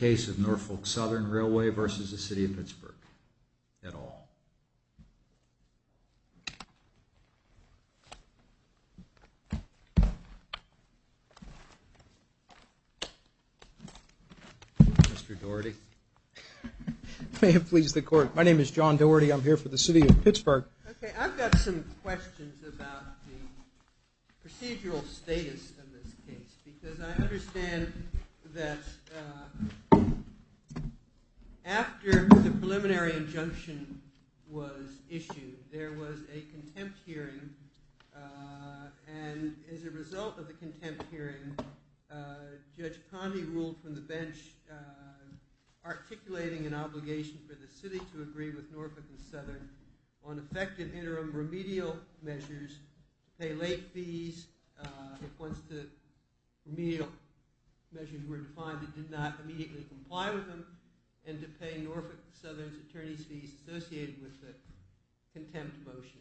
Mr. Doherty. May it please the court. My name is John Doherty. I'm here for the City of Pittsburgh. Okay, I've got some questions about the procedural status of this case. Because I understand that after the preliminary injunction was issued, there was a contempt hearing. And as a result of the contempt hearing, Judge Convy ruled from the bench articulating an obligation for the city to agree with Norfolk and Southern on effective interim remedial measures to pay late fees if once the remedial measures were defined it did not immediately comply with them and to pay Norfolk and Southern's attorney's fees associated with the contempt motion.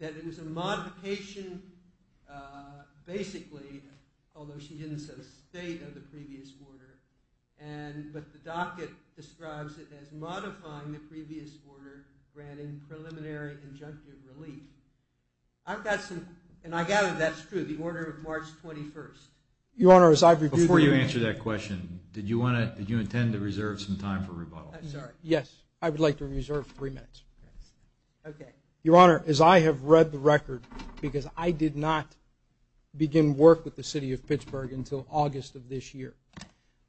That it was a modification basically, although she didn't say the state of the previous order, but the docket describes it as modifying the previous order granting preliminary injunctive relief. I've got some, and I gather that's true, the order of March 21st. Before you answer that question, did you intend to reserve some time for rebuttal? Yes, I would like to reserve three minutes. Okay. Your Honor, as I have read the record, because I did not begin work with the City of Pittsburgh until August of this year,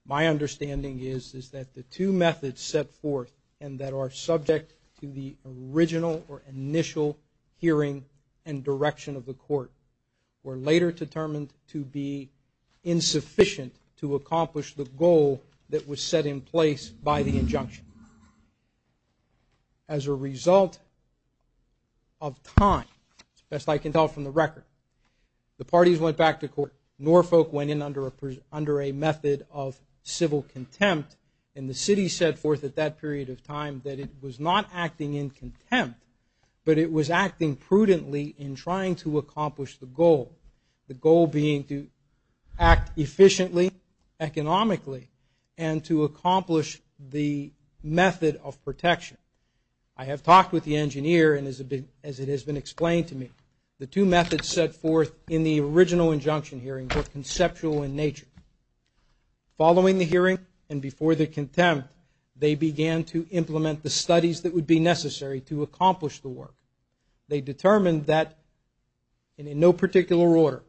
my understanding is that the two methods set forth and that are subject to the original or initial hearing and direction of the court were later determined to be insufficient to accomplish the goal that was set in place by the injunction. As a result of time, best I can tell from the record, the parties went back to court. Norfolk went in under a method of civil contempt, and the city set forth at that period of time that it was not acting in contempt, but it was acting prudently in trying to accomplish the goal, the goal being to act efficiently, economically, and to accomplish the method of protection. I have talked with the engineer, and as it has been explained to me, the two methods set forth in the original injunction hearing were conceptual in nature. Following the hearing and before the contempt, they began to implement the studies that would be necessary to accomplish the work. They determined that in no particular order,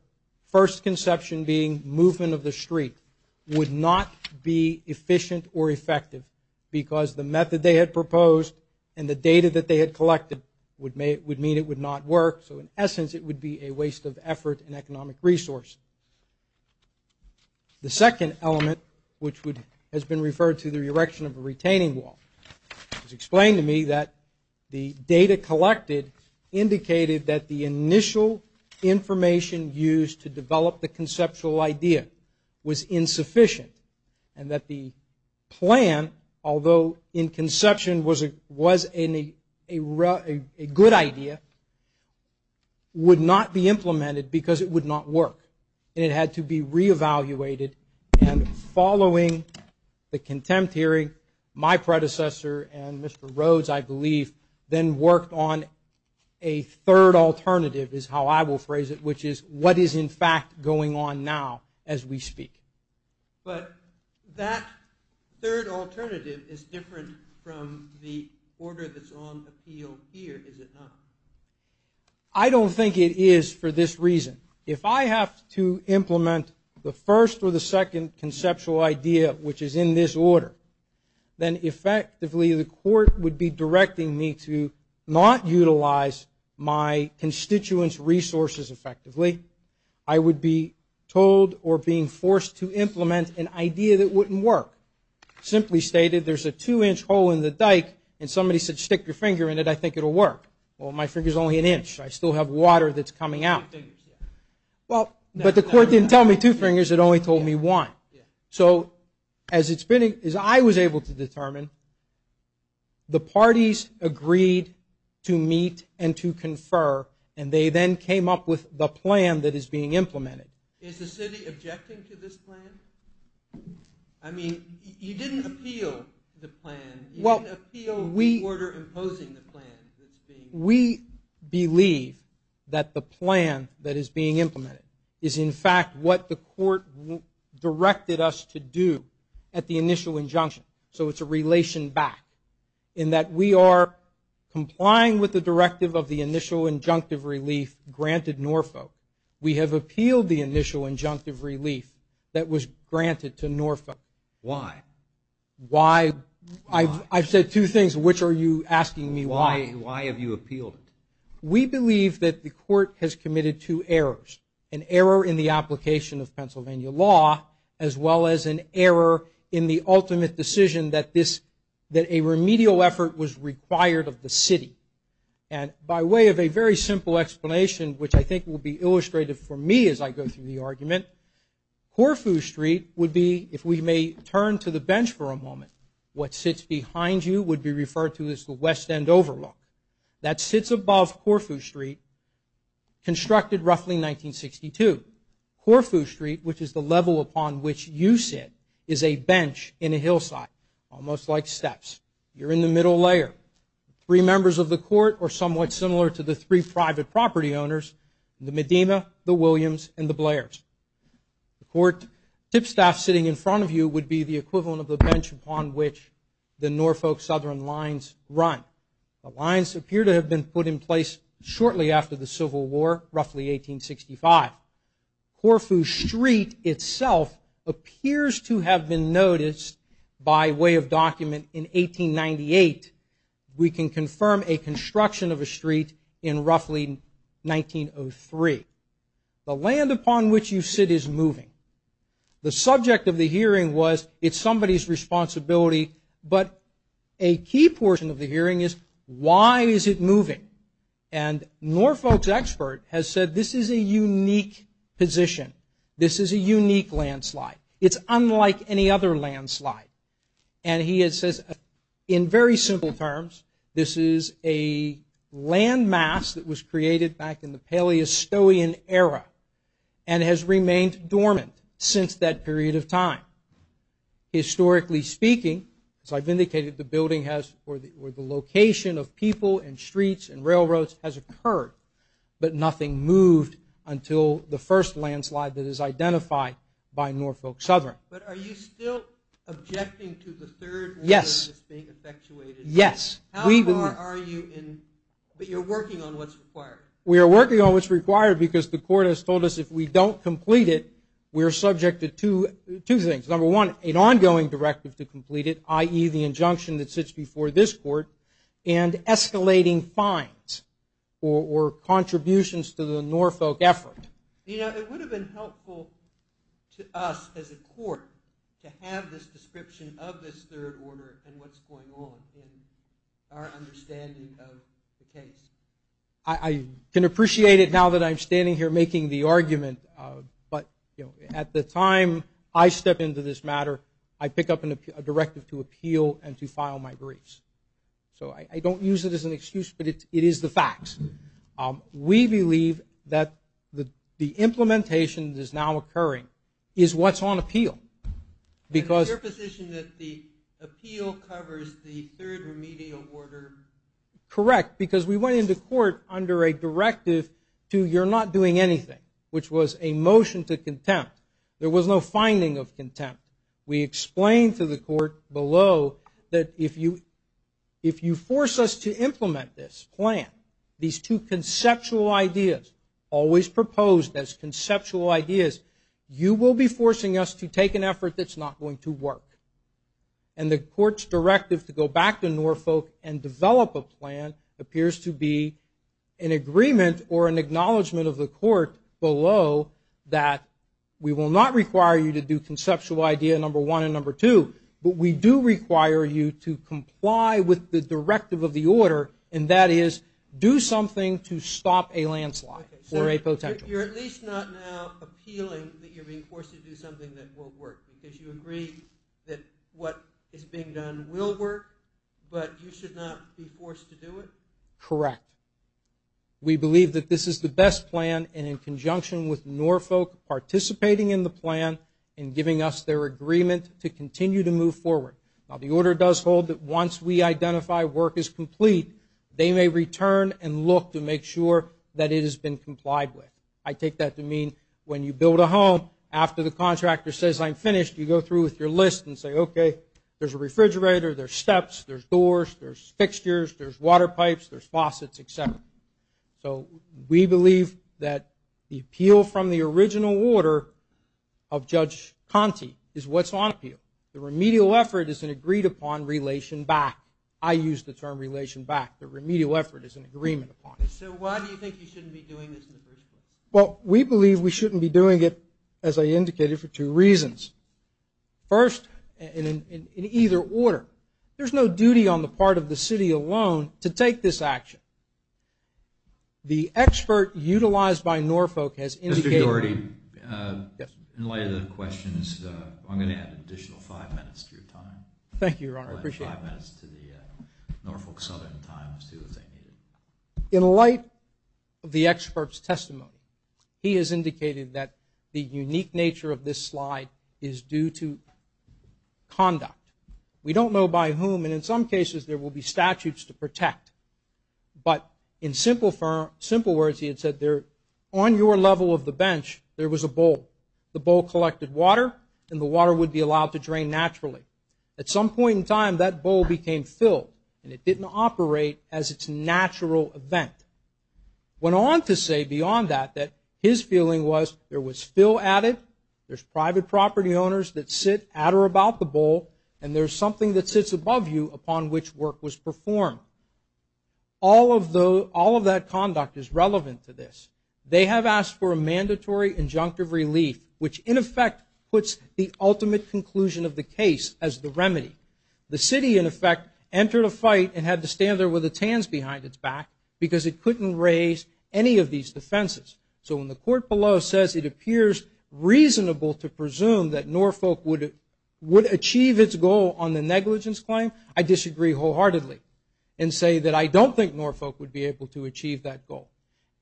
first conception being movement of the street would not be efficient or effective because the method they had proposed and the data that they had collected would mean it would not work, so in essence it would be a waste of effort and economic resource. The second element, which has been referred to the erection of a retaining wall, it was explained to me that the data collected indicated that the initial information used to develop the conceptual idea was insufficient and that the plan, although in conception was a good idea, would not be implemented because it would not work, and it had to be reevaluated. And following the contempt hearing, my predecessor and Mr. Rhodes, I believe, then worked on a third alternative is how I will phrase it, which is what is in fact going on now as we speak. But that third alternative is different from the order that's on appeal here, is it not? I don't think it is for this reason. If I have to implement the first or the second conceptual idea, which is in this order, then effectively the court would be directing me to not utilize my constituents' resources effectively. I would be told or being forced to implement an idea that wouldn't work. Simply stated, there's a two-inch hole in the dike and somebody said stick your finger in it, I think it will work. Well, my finger is only an inch. I still have water that's coming out. But the court didn't tell me two fingers, it only told me one. So as I was able to determine, the parties agreed to meet and to confer, and they then came up with the plan that is being implemented. Is the city objecting to this plan? I mean, you didn't appeal the plan. You didn't appeal the order imposing the plan. We believe that the plan that is being implemented is, in fact, what the court directed us to do at the initial injunction. So it's a relation back in that we are complying with the directive of the initial injunctive relief granted Norfolk. We have appealed the initial injunctive relief that was granted to Norfolk. Why? I've said two things, which are you asking me why? Why have you appealed it? We believe that the court has committed two errors, an error in the application of Pennsylvania law, as well as an error in the ultimate decision that a remedial effort was required of the city. And by way of a very simple explanation, which I think will be illustrated for me as I go through the argument, Corfu Street would be, if we may turn to the bench for a moment, what sits behind you would be referred to as the West End Overlook. That sits above Corfu Street, constructed roughly in 1962. Corfu Street, which is the level upon which you sit, is a bench in a hillside, almost like steps. You're in the middle layer. Three members of the court are somewhat similar to the three private property owners, the Medina, the Williams, and the Blairs. The court tip staff sitting in front of you would be the equivalent of the bench upon which the Norfolk Southern Lines run. The lines appear to have been put in place shortly after the Civil War, roughly 1865. Corfu Street itself appears to have been noticed by way of document in 1898. We can confirm a construction of a street in roughly 1903. The land upon which you sit is moving. The subject of the hearing was it's somebody's responsibility, but a key portion of the hearing is why is it moving? And Norfolk's expert has said this is a unique position. This is a unique landslide. It's unlike any other landslide. And he has said, in very simple terms, this is a landmass that was created back in the Paleostean era and has remained dormant since that period of time. Historically speaking, as I've indicated, the building has, or the location of people and streets and railroads has occurred, but nothing moved until the first landslide that is identified by Norfolk Southern. But are you still objecting to the third? Yes. It's being effectuated. Yes. How far are you in, but you're working on what's required. We are working on what's required because the court has told us if we don't complete it, we're subject to two things. Number one, an ongoing directive to complete it, i.e., the injunction that sits before this court, and escalating fines or contributions to the Norfolk effort. You know, it would have been helpful to us as a court to have this description of this third order and what's going on in our understanding of the case. I can appreciate it now that I'm standing here making the argument, but at the time I step into this matter, I pick up a directive to appeal and to file my briefs. So I don't use it as an excuse, but it is the facts. We believe that the implementation that is now occurring is what's on appeal. Is it your position that the appeal covers the third remedial order? Correct, because we went into court under a directive to you're not doing anything, which was a motion to contempt. There was no finding of contempt. We explained to the court below that if you force us to implement this plan, these two conceptual ideas, always proposed as conceptual ideas, you will be forcing us to take an effort that's not going to work. And the court's directive to go back to Norfolk and develop a plan appears to be an agreement or an acknowledgment of the court below that we will not require you to do conceptual idea number one and number two, but we do require you to comply with the directive of the order, and that is do something to stop a landslide or a potential. You're at least not now appealing that you're being forced to do something that won't work, because you agree that what is being done will work, but you should not be forced to do it? Correct. We believe that this is the best plan, and in conjunction with Norfolk participating in the plan and giving us their agreement to continue to move forward. Now, the order does hold that once we identify work is complete, they may return and look to make sure that it has been complied with. I take that to mean when you build a home, after the contractor says, I'm finished, you go through with your list and say, okay, there's a refrigerator, there's steps, there's doors, there's fixtures, there's water pipes, there's faucets, et cetera. So we believe that the appeal from the original order of Judge Conte is what's on appeal. The remedial effort is an agreed-upon relation back. I use the term relation back. The remedial effort is an agreement upon it. So why do you think you shouldn't be doing this in the first place? Well, we believe we shouldn't be doing it, as I indicated, for two reasons. First, in either order, there's no duty on the part of the city alone to take this action. The expert utilized by Norfolk has indicated. Mr. Giordi. Yes. In light of the questions, I'm going to add an additional five minutes to your time. Thank you, Your Honor. I appreciate it. I'll add five minutes to the Norfolk Southern time as soon as I need it. In light of the expert's testimony, he has indicated that the unique nature of this slide is due to conduct. We don't know by whom, and in some cases, there will be statutes to protect. But in simple words, he had said, on your level of the bench, there was a bowl. The bowl collected water, and the water would be allowed to drain naturally. At some point in time, that bowl became filled, and it didn't operate as its natural event. Went on to say beyond that that his feeling was there was fill added, there's private property owners that sit at or about the bowl, and there's something that sits above you upon which work was performed. All of that conduct is relevant to this. They have asked for a mandatory injunctive relief, which, in effect, puts the ultimate conclusion of the case as the remedy. The city, in effect, entered a fight and had to stand there with its hands behind its back because it couldn't raise any of these defenses. So when the court below says it appears reasonable to presume that Norfolk would achieve its goal on the negligence claim, I disagree wholeheartedly and say that I don't think Norfolk would be able to achieve that goal.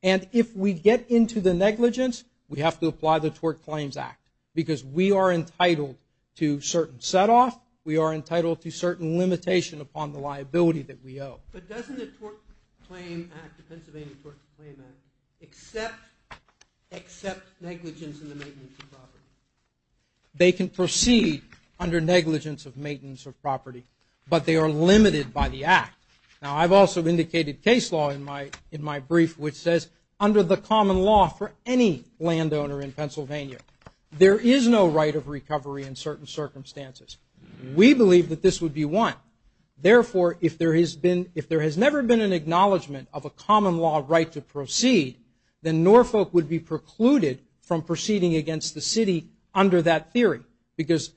And if we get into the negligence, we have to apply the Tort Claims Act because we are entitled to certain set-off. We are entitled to certain limitation upon the liability that we owe. But doesn't the Tort Claim Act, the Pennsylvania Tort Claim Act, accept negligence in the maintenance of property? They can proceed under negligence of maintenance of property, but they are limited by the act. Now, I've also indicated case law in my brief, which says, under the common law for any landowner in Pennsylvania, there is no right of recovery in certain circumstances. We believe that this would be one. Therefore, if there has never been an acknowledgment of a common law right to proceed, then Norfolk would be precluded from proceeding against the city under that theory because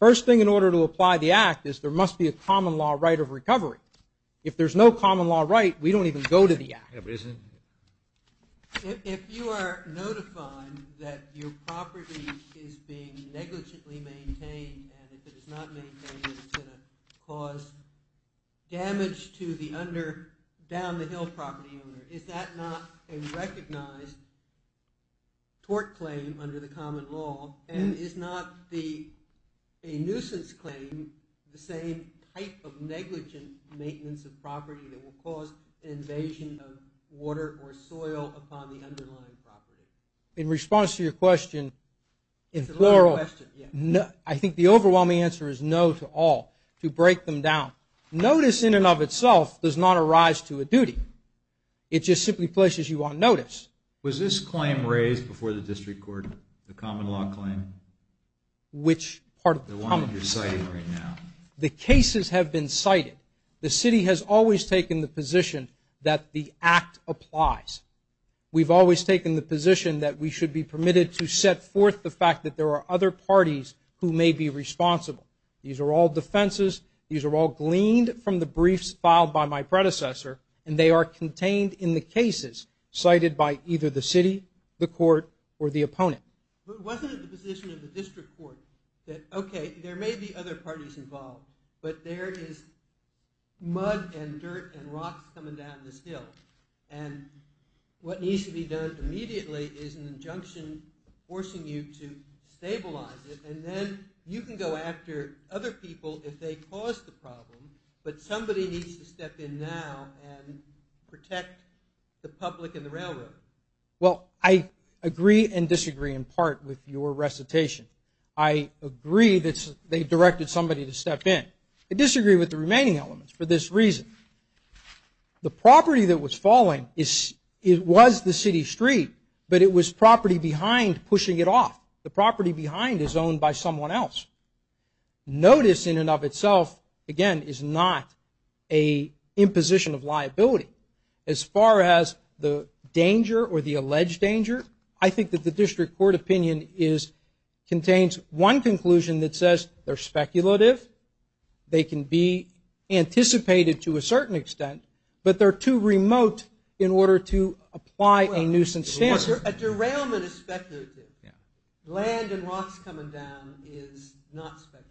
first thing in order to apply the act is there must be a common law right of recovery. If there's no common law right, we don't even go to the act. If you are notifying that your property is being negligently maintained and if it is not maintained, it's going to cause damage to the down-the-hill property owner, is that not a recognized tort claim under the common law and is not a nuisance claim the same type of negligent maintenance of property that will cause an invasion of water or soil upon the underlying property? In response to your question, in plural, I think the overwhelming answer is no to all, to break them down. Notice in and of itself does not arise to a duty. It just simply places you on notice. Was this claim raised before the district court, the common law claim? Which part of common law? The one that you're citing right now. The cases have been cited. The city has always taken the position that the act applies. We've always taken the position that we should be permitted to set forth the fact that there are other parties who may be responsible. These are all defenses. These are all gleaned from the briefs filed by my predecessor, and they are contained in the cases cited by either the city, the court, or the opponent. But wasn't it the position of the district court that, okay, there may be other parties involved, but there is mud and dirt and rocks coming down this hill, and what needs to be done immediately is an injunction forcing you to stabilize it, and then you can go after other people if they cause the problem, but somebody needs to step in now and protect the public and the railroad. Well, I agree and disagree in part with your recitation. I agree that they directed somebody to step in. I disagree with the remaining elements for this reason. The property that was falling was the city street, but it was property behind pushing it off. The property behind is owned by someone else. Notice in and of itself, again, is not an imposition of liability. As far as the danger or the alleged danger, I think that the district court opinion contains one conclusion that says they're speculative, they can be anticipated to a certain extent, but they're too remote in order to apply a nuisance stance. A derailment is speculative. Land and rocks coming down is not speculative.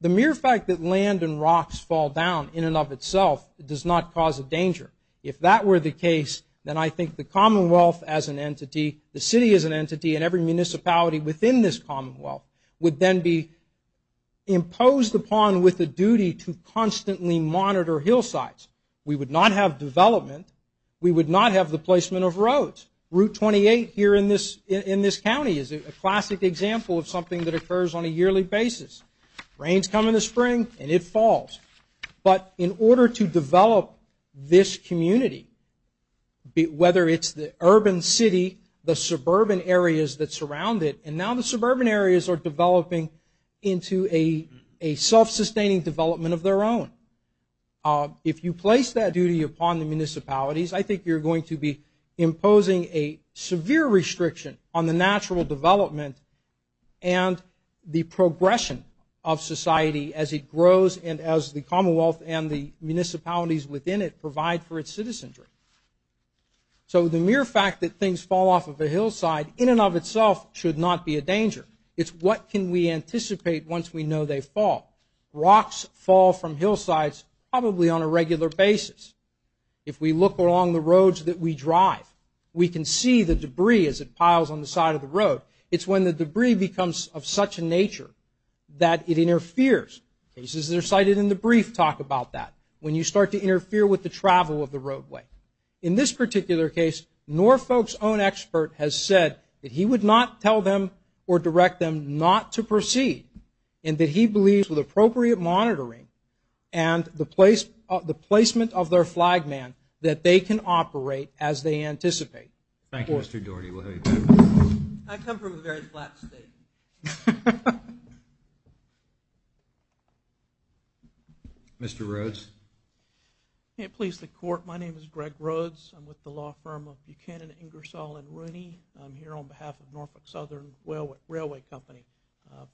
The mere fact that land and rocks fall down in and of itself does not cause a danger. If that were the case, then I think the Commonwealth as an entity, the city as an entity, and every municipality within this Commonwealth would then be imposed upon with a duty to constantly monitor hillsides. We would not have development. We would not have the placement of roads. Route 28 here in this county is a classic example of something that occurs on a yearly basis. Rains come in the spring, and it falls. But in order to develop this community, whether it's the urban city, the suburban areas that surround it, and now the suburban areas are developing into a self-sustaining development of their own. If you place that duty upon the municipalities, I think you're going to be imposing a severe restriction on the natural development and the progression of society as it grows and as the Commonwealth and the municipalities within it provide for its citizenry. So the mere fact that things fall off of a hillside in and of itself should not be a danger. It's what can we anticipate once we know they fall. Rocks fall from hillsides probably on a regular basis. If we look along the roads that we drive, we can see the debris as it piles on the side of the road. It's when the debris becomes of such a nature that it interferes. Cases that are cited in the brief talk about that, when you start to interfere with the travel of the roadway. In this particular case, Norfolk's own expert has said that he would not tell them or direct them not to proceed and that he believes with appropriate monitoring and the placement of their flag man that they can operate as they anticipate. Thank you, Mr. Dougherty. We'll have you back. I come from a very flat state. Mr. Rhodes. May it please the Court, my name is Greg Rhodes. I'm with the law firm of Buchanan, Ingersoll, and Rooney. I'm here on behalf of Norfolk Southern Railway Company.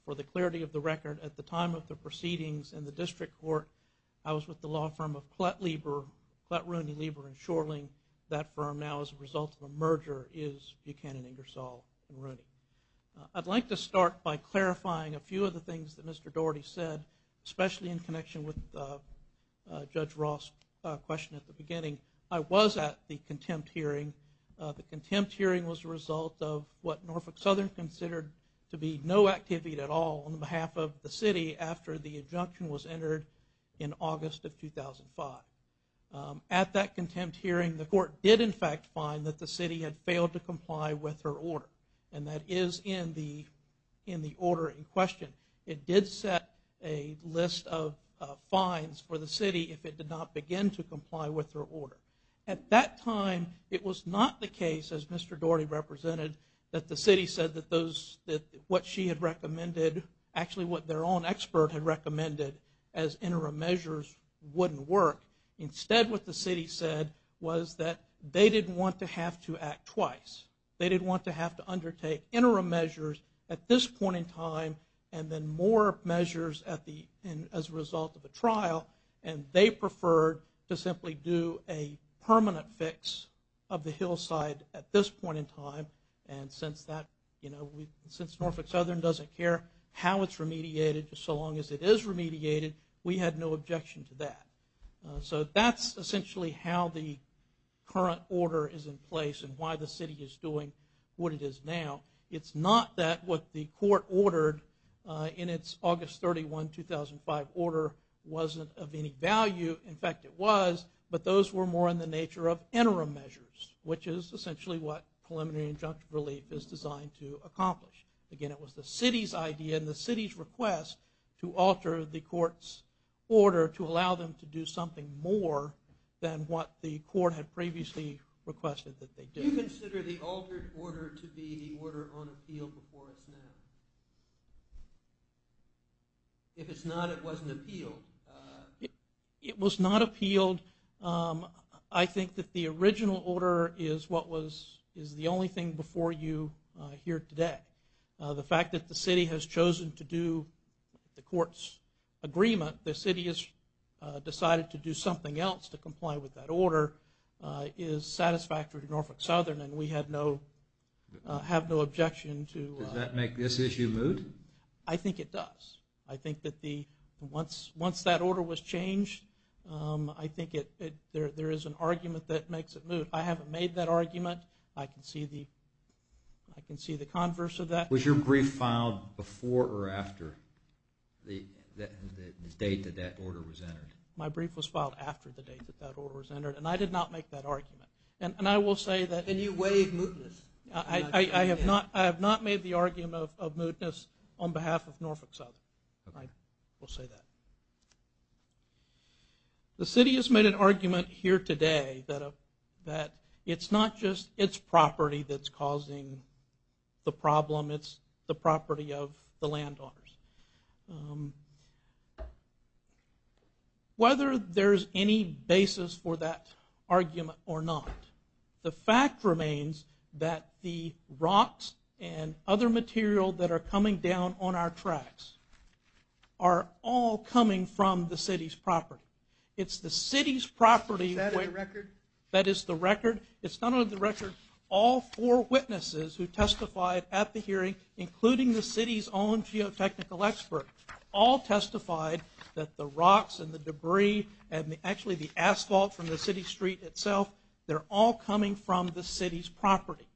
For the clarity of the record, at the time of the proceedings in the district court, I was with the law firm of Klett, Rooney, Lieber, and Schorling. That firm now as a result of a merger is Buchanan, Ingersoll, and Rooney. I'd like to start by clarifying a few of the things that Mr. Dougherty said, especially in connection with Judge Ross' question at the beginning. I was at the contempt hearing. The contempt hearing was a result of what Norfolk Southern considered to be no activity at all on behalf of the city after the injunction was entered in August of 2005. At that contempt hearing, the court did in fact find that the city had failed to comply with her order, and that is in the order in question. It did set a list of fines for the city if it did not begin to comply with her order. At that time, it was not the case, as Mr. Dougherty represented, that the city said that what she had recommended, actually what their own expert had recommended as interim measures wouldn't work. Instead, what the city said was that they didn't want to have to act twice. They didn't want to have to undertake interim measures at this point in time and then more measures as a result of a trial, and they preferred to simply do a permanent fix of the hillside at this point in time. And since Norfolk Southern doesn't care how it's remediated, so long as it is remediated, we had no objection to that. So that's essentially how the current order is in place and why the city is doing what it is now. It's not that what the court ordered in its August 31, 2005 order wasn't of any value. In fact, it was, but those were more in the nature of interim measures, which is essentially what preliminary injunctive relief is designed to accomplish. Again, it was the city's idea and the city's request to alter the court's order to allow them to do something more than what the court had previously requested that they do. Do you consider the altered order to be the order on appeal before us now? If it's not, it wasn't appealed. It was not appealed. I think that the original order is the only thing before you here today. The fact that the city has chosen to do the court's agreement, the city has decided to do something else to comply with that order, is satisfactory to Norfolk Southern and we have no objection to that. Does that make this issue moot? I think it does. I think that once that order was changed, I think there is an argument that makes it moot. I haven't made that argument. I can see the converse of that. Was your brief filed before or after the date that that order was entered? My brief was filed after the date that that order was entered and I did not make that argument. And I will say that... Then you waive mootness. I have not made the argument of mootness on behalf of Norfolk Southern. I will say that. The city has made an argument here today that it's not just its property that's causing the problem, it's the property of the land owners. Whether there's any basis for that argument or not, the fact remains that the rocks and other material that are coming down on our tracks are all coming from the city's property. It's the city's property... Is that in the record? That is the record. It's done on the record. All four witnesses who testified at the hearing, including the city's own geotechnical expert, all testified that the rocks and the debris and actually the asphalt from the city street itself, they're all coming from the city's property.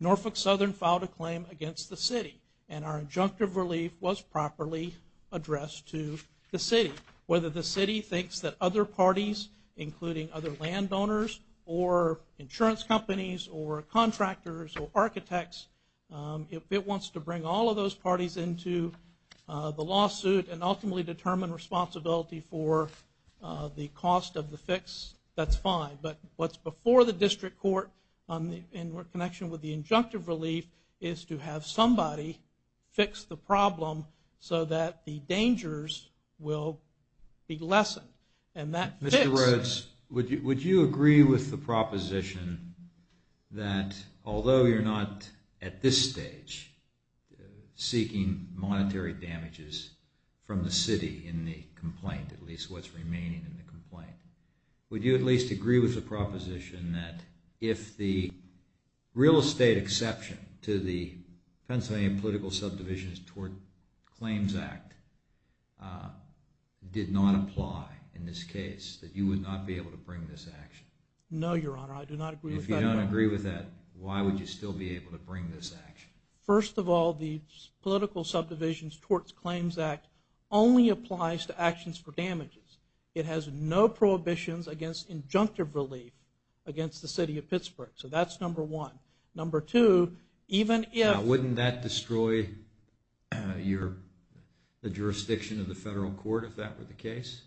Norfolk Southern filed a claim against the city and our injunctive relief was properly addressed to the city. Whether the city thinks that other parties, including other land owners or insurance companies or contractors or architects, if it wants to bring all of those parties into the lawsuit and ultimately determine responsibility for the cost of the fix, that's fine. But what's before the district court in connection with the injunctive relief is to have somebody fix the problem so that the dangers will be lessened. Mr. Rhodes, would you agree with the proposition that although you're not, at this stage, seeking monetary damages from the city in the complaint, at least what's remaining in the complaint, would you at least agree with the proposition that if the real estate exception to the Pennsylvania Political Subdivisions Towards Claims Act did not apply in this case, that you would not be able to bring this action? No, Your Honor. I do not agree with that. If you don't agree with that, why would you still be able to bring this action? First of all, the Political Subdivisions Towards Claims Act only applies to actions for damages. It has no prohibitions against injunctive relief against the city of Pittsburgh. So that's number one. Number two, even if... Now, wouldn't that destroy the jurisdiction of the federal court if that were the case?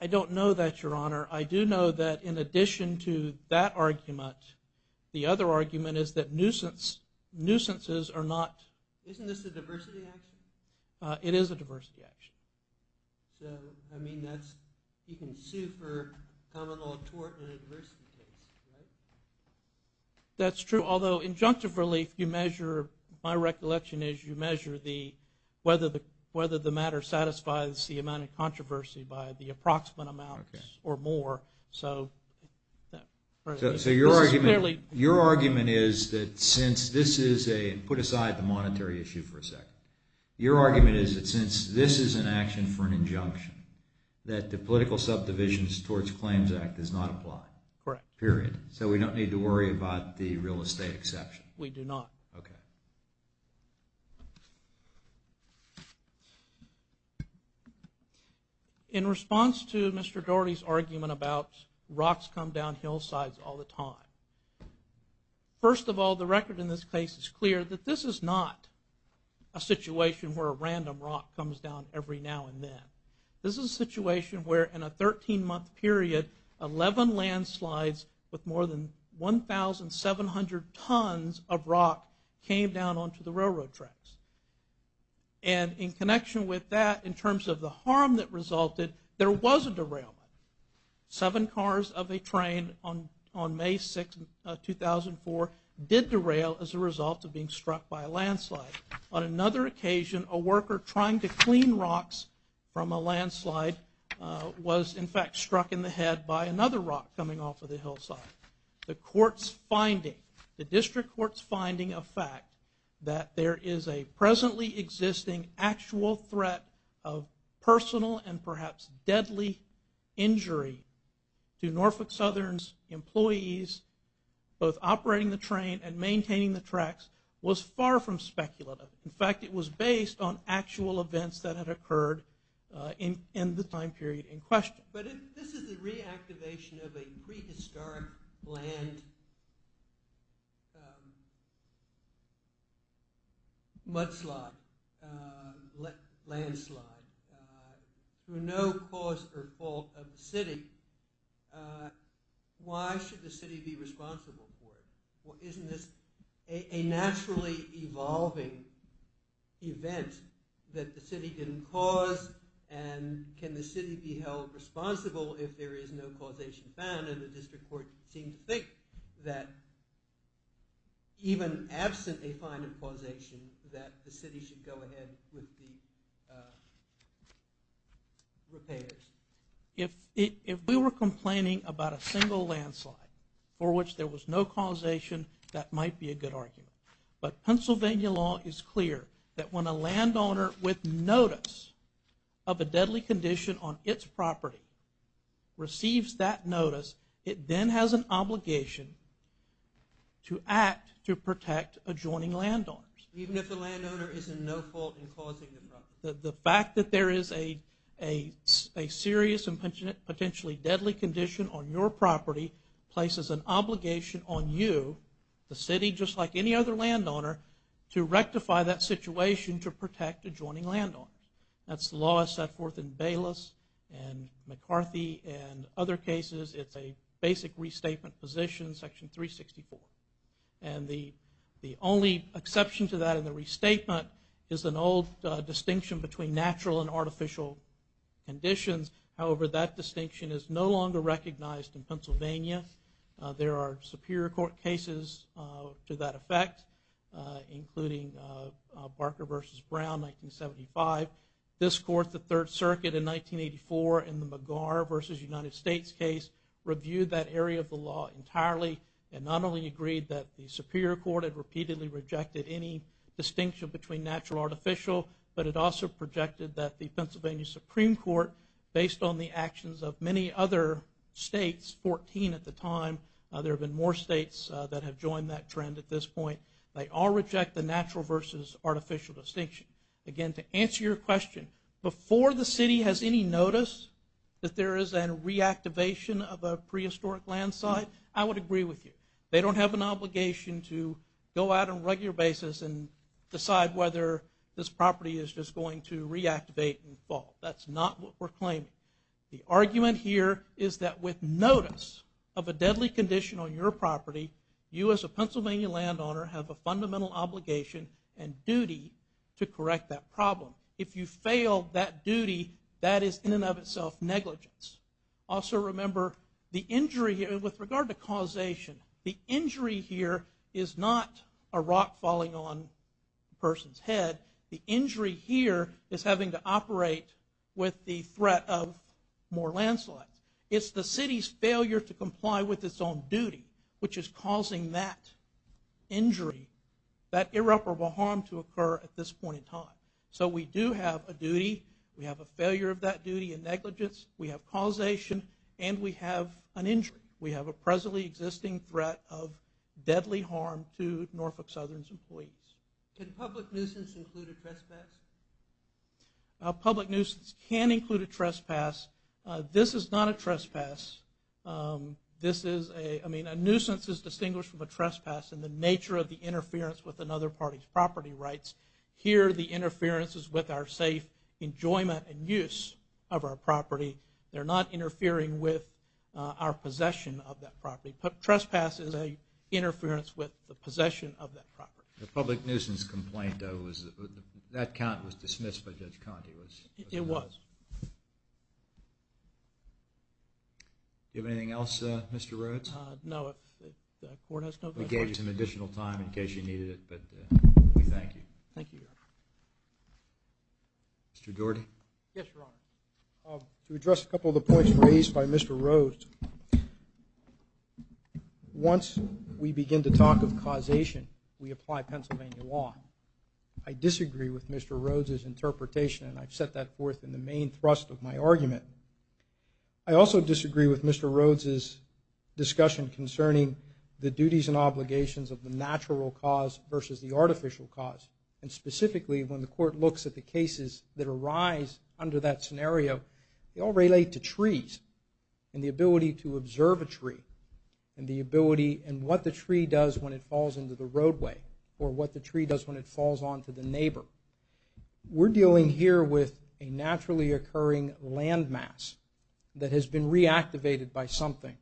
I don't know that, Your Honor. I do know that in addition to that argument, the other argument is that nuisances are not... Isn't this a diversity action? It is a diversity action. So, I mean, that's, you can sue for common law tort in a diversity case, right? That's true, although injunctive relief, you measure, my recollection is you measure whether the matter satisfies the amount of controversy by the approximate amount or more. So your argument is that since this is a... put aside the monetary issue for a second. Your argument is that since this is an action for an injunction, that the Political Subdivisions Towards Claims Act does not apply. Correct. Period. So we don't need to worry about the real estate exception. We do not. Okay. In response to Mr. Dougherty's argument about rocks come down hillsides all the time, first of all, the record in this case is clear that this is not a situation where a random rock comes down every now and then. This is a situation where in a 13-month period, 11 landslides with more than 1,700 tons of rock came down onto the railroad tracks. And in connection with that, in terms of the harm that resulted, there was a derailment. Seven cars of a train on May 6, 2004, did derail as a result of being struck by a landslide. On another occasion, a worker trying to clean rocks from a landslide was, in fact, struck in the head by another rock coming off of the hillside. The District Court's finding of fact that there is a presently existing actual threat of personal and perhaps deadly injury to Norfolk Southern's employees both operating the train and maintaining the tracks was far from speculative. In fact, it was based on actual events that had occurred in the time period in question. But if this is the reactivation of a prehistoric land mudslide, landslide, through no cause or fault of the city, why should the city be responsible for it? Isn't this a naturally evolving event that the city didn't cause? And can the city be held responsible if there is no causation found? And the District Court seemed to think that even absent a final causation, that the city should go ahead with the repairs. If we were complaining about a single landslide for which there was no causation, that might be a good argument. But Pennsylvania law is clear that when a landowner with notice of a deadly condition on its property receives that notice, it then has an obligation to act to protect adjoining landowners. Even if the landowner is in no fault in causing the problem? The fact that there is a serious and potentially deadly condition on your property places an obligation on you, the city, just like any other landowner, to rectify that situation to protect adjoining landowners. That's the law set forth in Bayless and McCarthy and other cases. It's a basic restatement position, Section 364. And the only exception to that in the restatement is an old distinction between natural and artificial conditions. However, that distinction is no longer recognized in Pennsylvania. There are Superior Court cases to that effect, including Barker v. Brown, 1975. This Court, the Third Circuit in 1984 in the McGar v. United States case, reviewed that area of the law entirely and not only agreed that the Superior Court had repeatedly rejected any distinction between natural and artificial, but it also projected that the Pennsylvania Supreme Court, based on the actions of many other states, 14 at the time, there have been more states that have joined that trend at this point, they all reject the natural versus artificial distinction. Again, to answer your question, before the city has any notice that there is a reactivation of a prehistoric land site, I would agree with you. They don't have an obligation to go out on a regular basis and decide whether this property is just going to reactivate and fall. That's not what we're claiming. The argument here is that with notice of a deadly condition on your property, you as a Pennsylvania landowner have a fundamental obligation and duty to correct that problem. If you fail that duty, that is in and of itself negligence. Also remember, the injury here, with regard to causation, the injury here is not a rock falling on a person's head. The injury here is having to operate with the threat of more landslides. It's the city's failure to comply with its own duty, which is causing that injury, that irreparable harm, to occur at this point in time. So we do have a duty, we have a failure of that duty and negligence, we have causation, and we have an injury. We have a presently existing threat of deadly harm to Norfolk Southern's employees. Can public nuisance include a trespass? Public nuisance can include a trespass. This is not a trespass. A nuisance is distinguished from a trespass in the nature of the interference with another party's property rights. Here the interference is with our safe enjoyment and use of our property. They're not interfering with our possession of that property. A trespass is an interference with the possession of that property. The public nuisance complaint, though, that count was dismissed by Judge Conte. It was. Do you have anything else, Mr. Rhodes? No. We gave you some additional time in case you needed it, but we thank you. Thank you. Mr. Doherty? Yes, Your Honor. To address a couple of the points raised by Mr. Rhodes, once we begin to talk of causation, we apply Pennsylvania law. I disagree with Mr. Rhodes' interpretation, and I've set that forth in the main thrust of my argument. I also disagree with Mr. Rhodes' discussion concerning the duties and obligations of the natural cause versus the artificial cause, and specifically when the court looks at the cases that arise under that scenario, they all relate to trees and the ability to observe a tree and the ability and what the tree does when it falls into the roadway or what the tree does when it falls onto the neighbor. We're dealing here with a naturally occurring landmass that has been reactivated by something,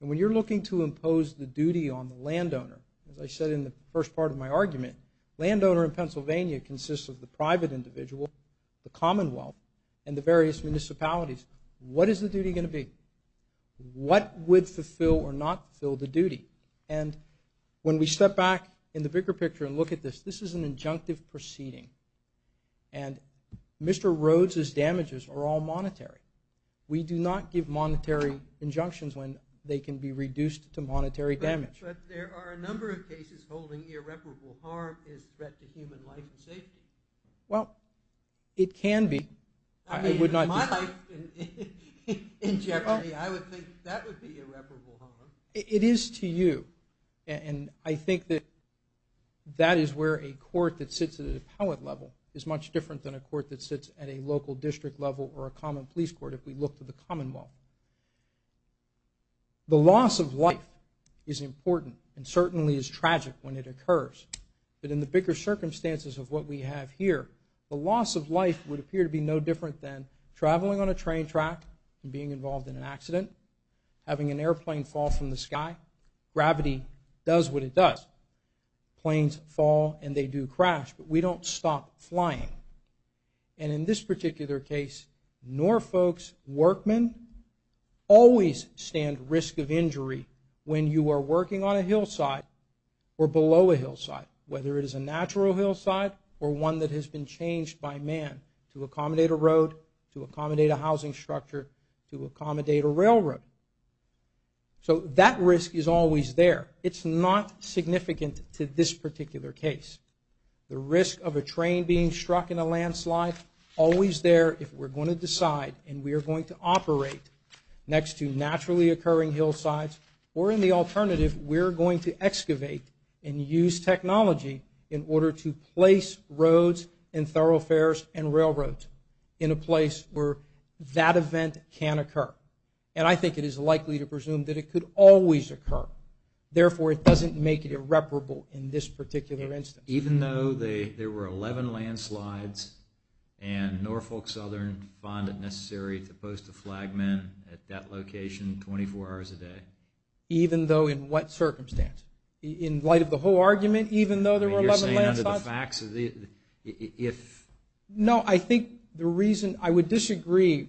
and when you're looking to impose the duty on the landowner, as I said in the first part of my argument, landowner in Pennsylvania consists of the private individual, the commonwealth, and the various municipalities. What is the duty going to be? What would fulfill or not fulfill the duty? And when we step back in the bigger picture and look at this, this is an injunctive proceeding, and Mr. Rhodes' damages are all monetary. We do not give monetary injunctions when they can be reduced to monetary damage. But there are a number of cases holding irreparable harm as a threat to human life and safety. Well, it can be. My life in jeopardy, I would think that would be irreparable harm. It is to you, and I think that that is where a court that sits at an appellate level is much different than a court that sits at a local district level or a common police court if we look to the commonwealth. The loss of life is important and certainly is tragic when it occurs. But in the bigger circumstances of what we have here, the loss of life would appear to be no different than traveling on a train track and being involved in an accident, having an airplane fall from the sky. Gravity does what it does. Planes fall and they do crash, but we don't stop flying. And in this particular case, Norfolk's workmen always stand risk of injury when you are working on a hillside or below a hillside, whether it is a natural hillside or one that has been changed by man to accommodate a road, to accommodate a housing structure, to accommodate a railroad. So that risk is always there. It's not significant to this particular case. The risk of a train being struck in a landslide, always there if we're going to decide and we are going to operate next to naturally occurring hillsides. Or in the alternative, we're going to excavate and use technology in order to place roads and thoroughfares and railroads in a place where that event can occur. And I think it is likely to presume that it could always occur. Therefore, it doesn't make it irreparable in this particular instance. Even though there were 11 landslides and Norfolk Southern found it necessary to post a flagman at that location 24 hours a day? Even though in what circumstance? In light of the whole argument, even though there were 11 landslides? You're saying under the facts? No, I think the reason I would disagree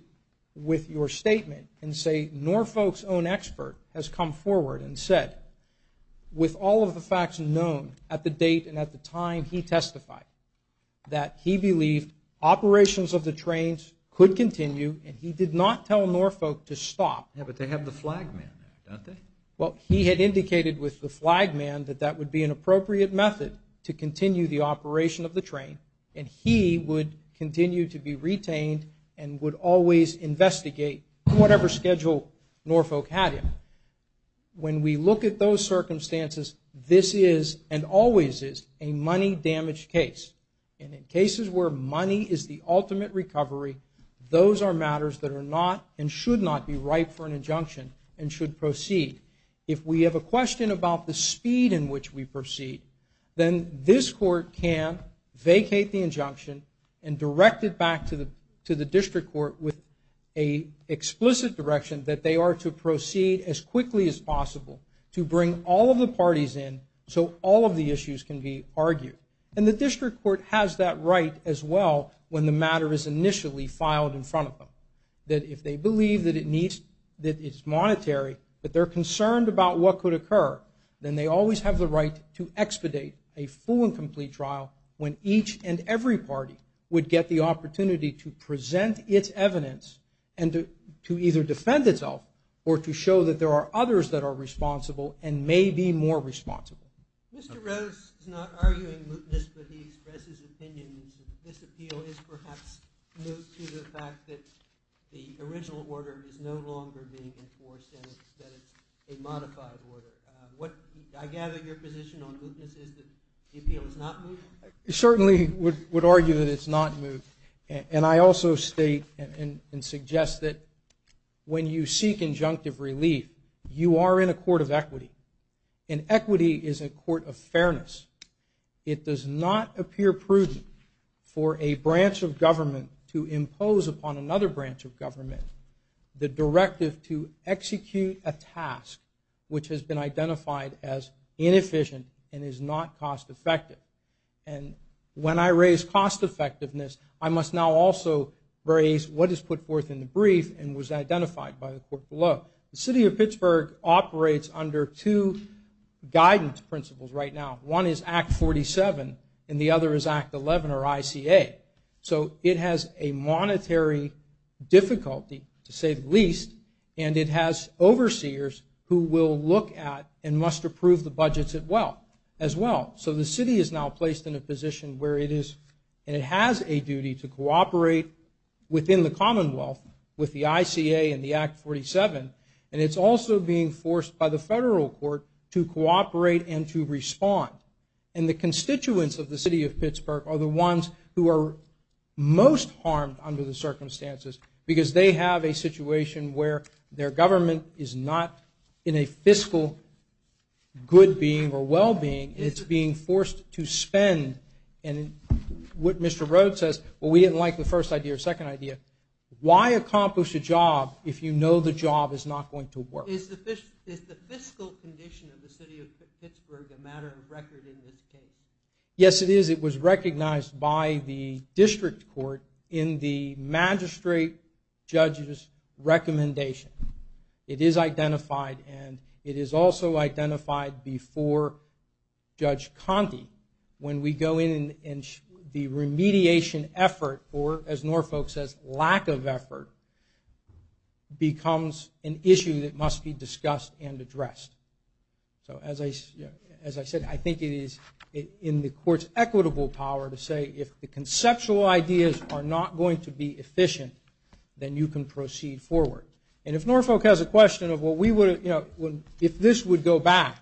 with your statement and say Norfolk's own expert has come forward and said, with all of the facts known at the date and at the time he testified, that he believed operations of the trains could continue and he did not tell Norfolk to stop. Yeah, but they have the flagman there, don't they? Well, he had indicated with the flagman that that would be an appropriate method to continue the operation of the train and he would continue to be retained and would always investigate whatever schedule Norfolk had him. When we look at those circumstances, this is and always is a money-damaged case. And in cases where money is the ultimate recovery, those are matters that are not and should not be ripe for an injunction and should proceed. If we have a question about the speed in which we proceed, then this court can vacate the injunction and direct it back to the district court with an explicit direction that they are to proceed as quickly as possible to bring all of the parties in so all of the issues can be argued. And the district court has that right as well when the matter is initially filed in front of them, that if they believe that it's monetary, that they're concerned about what could occur, then they always have the right to expedite a full and complete trial when each and every party would get the opportunity to present its evidence and to either defend itself or to show that there are others that are responsible and may be more responsible. Mr. Rose is not arguing mootness, but he expresses opinions that this appeal is perhaps moot to the fact that the original order is no longer being enforced and that it's a modified order. I gather your position on mootness is that the appeal is not moot? I certainly would argue that it's not moot. And I also state and suggest that when you seek injunctive relief, you are in a court of equity, and equity is a court of fairness. It does not appear prudent for a branch of government to impose upon another branch of government the directive to execute a task which has been identified as inefficient and is not cost-effective. And when I raise cost-effectiveness, I must now also raise what is put forth in the brief and was identified by the court below. The city of Pittsburgh operates under two guidance principles right now. One is Act 47, and the other is Act 11, or ICA. So it has a monetary difficulty, to say the least, and it has overseers who will look at and must approve the budgets as well. So the city is now placed in a position where it is, and it has a duty to cooperate within the Commonwealth with the ICA and the Act 47, and it's also being forced by the federal court to cooperate and to respond. And the constituents of the city of Pittsburgh are the ones who are most harmed under the circumstances because they have a situation where their government is not in a fiscal good being or well being. It's being forced to spend. And what Mr. Rhodes says, well, we didn't like the first idea or second idea. Why accomplish a job if you know the job is not going to work? Is the fiscal condition of the city of Pittsburgh a matter of record in this case? Yes, it is. It was recognized by the district court in the magistrate judge's recommendation. It is identified, and it is also identified before Judge Conte when we go in and the remediation effort, or as Norfolk says, lack of effort, becomes an issue that must be discussed and addressed. So as I said, I think it is in the court's equitable power to say if the conceptual ideas are not going to be efficient, then you can proceed forward. And if Norfolk has a question of if this would go back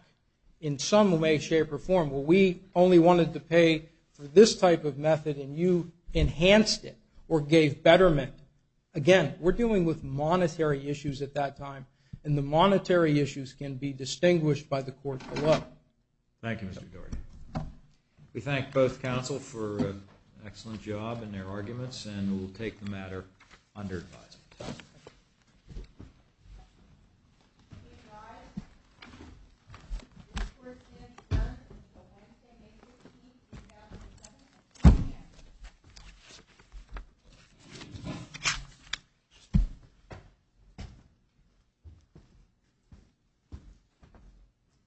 in some way, shape, or form, well, we only wanted to pay for this type of method and you enhanced it or gave betterment, again, we're dealing with monetary issues at that time, and the monetary issues can be distinguished by the court alone. Thank you, Mr. Gordy. We thank both counsel for an excellent job in their arguments and we'll take the matter under advisement. Thank you.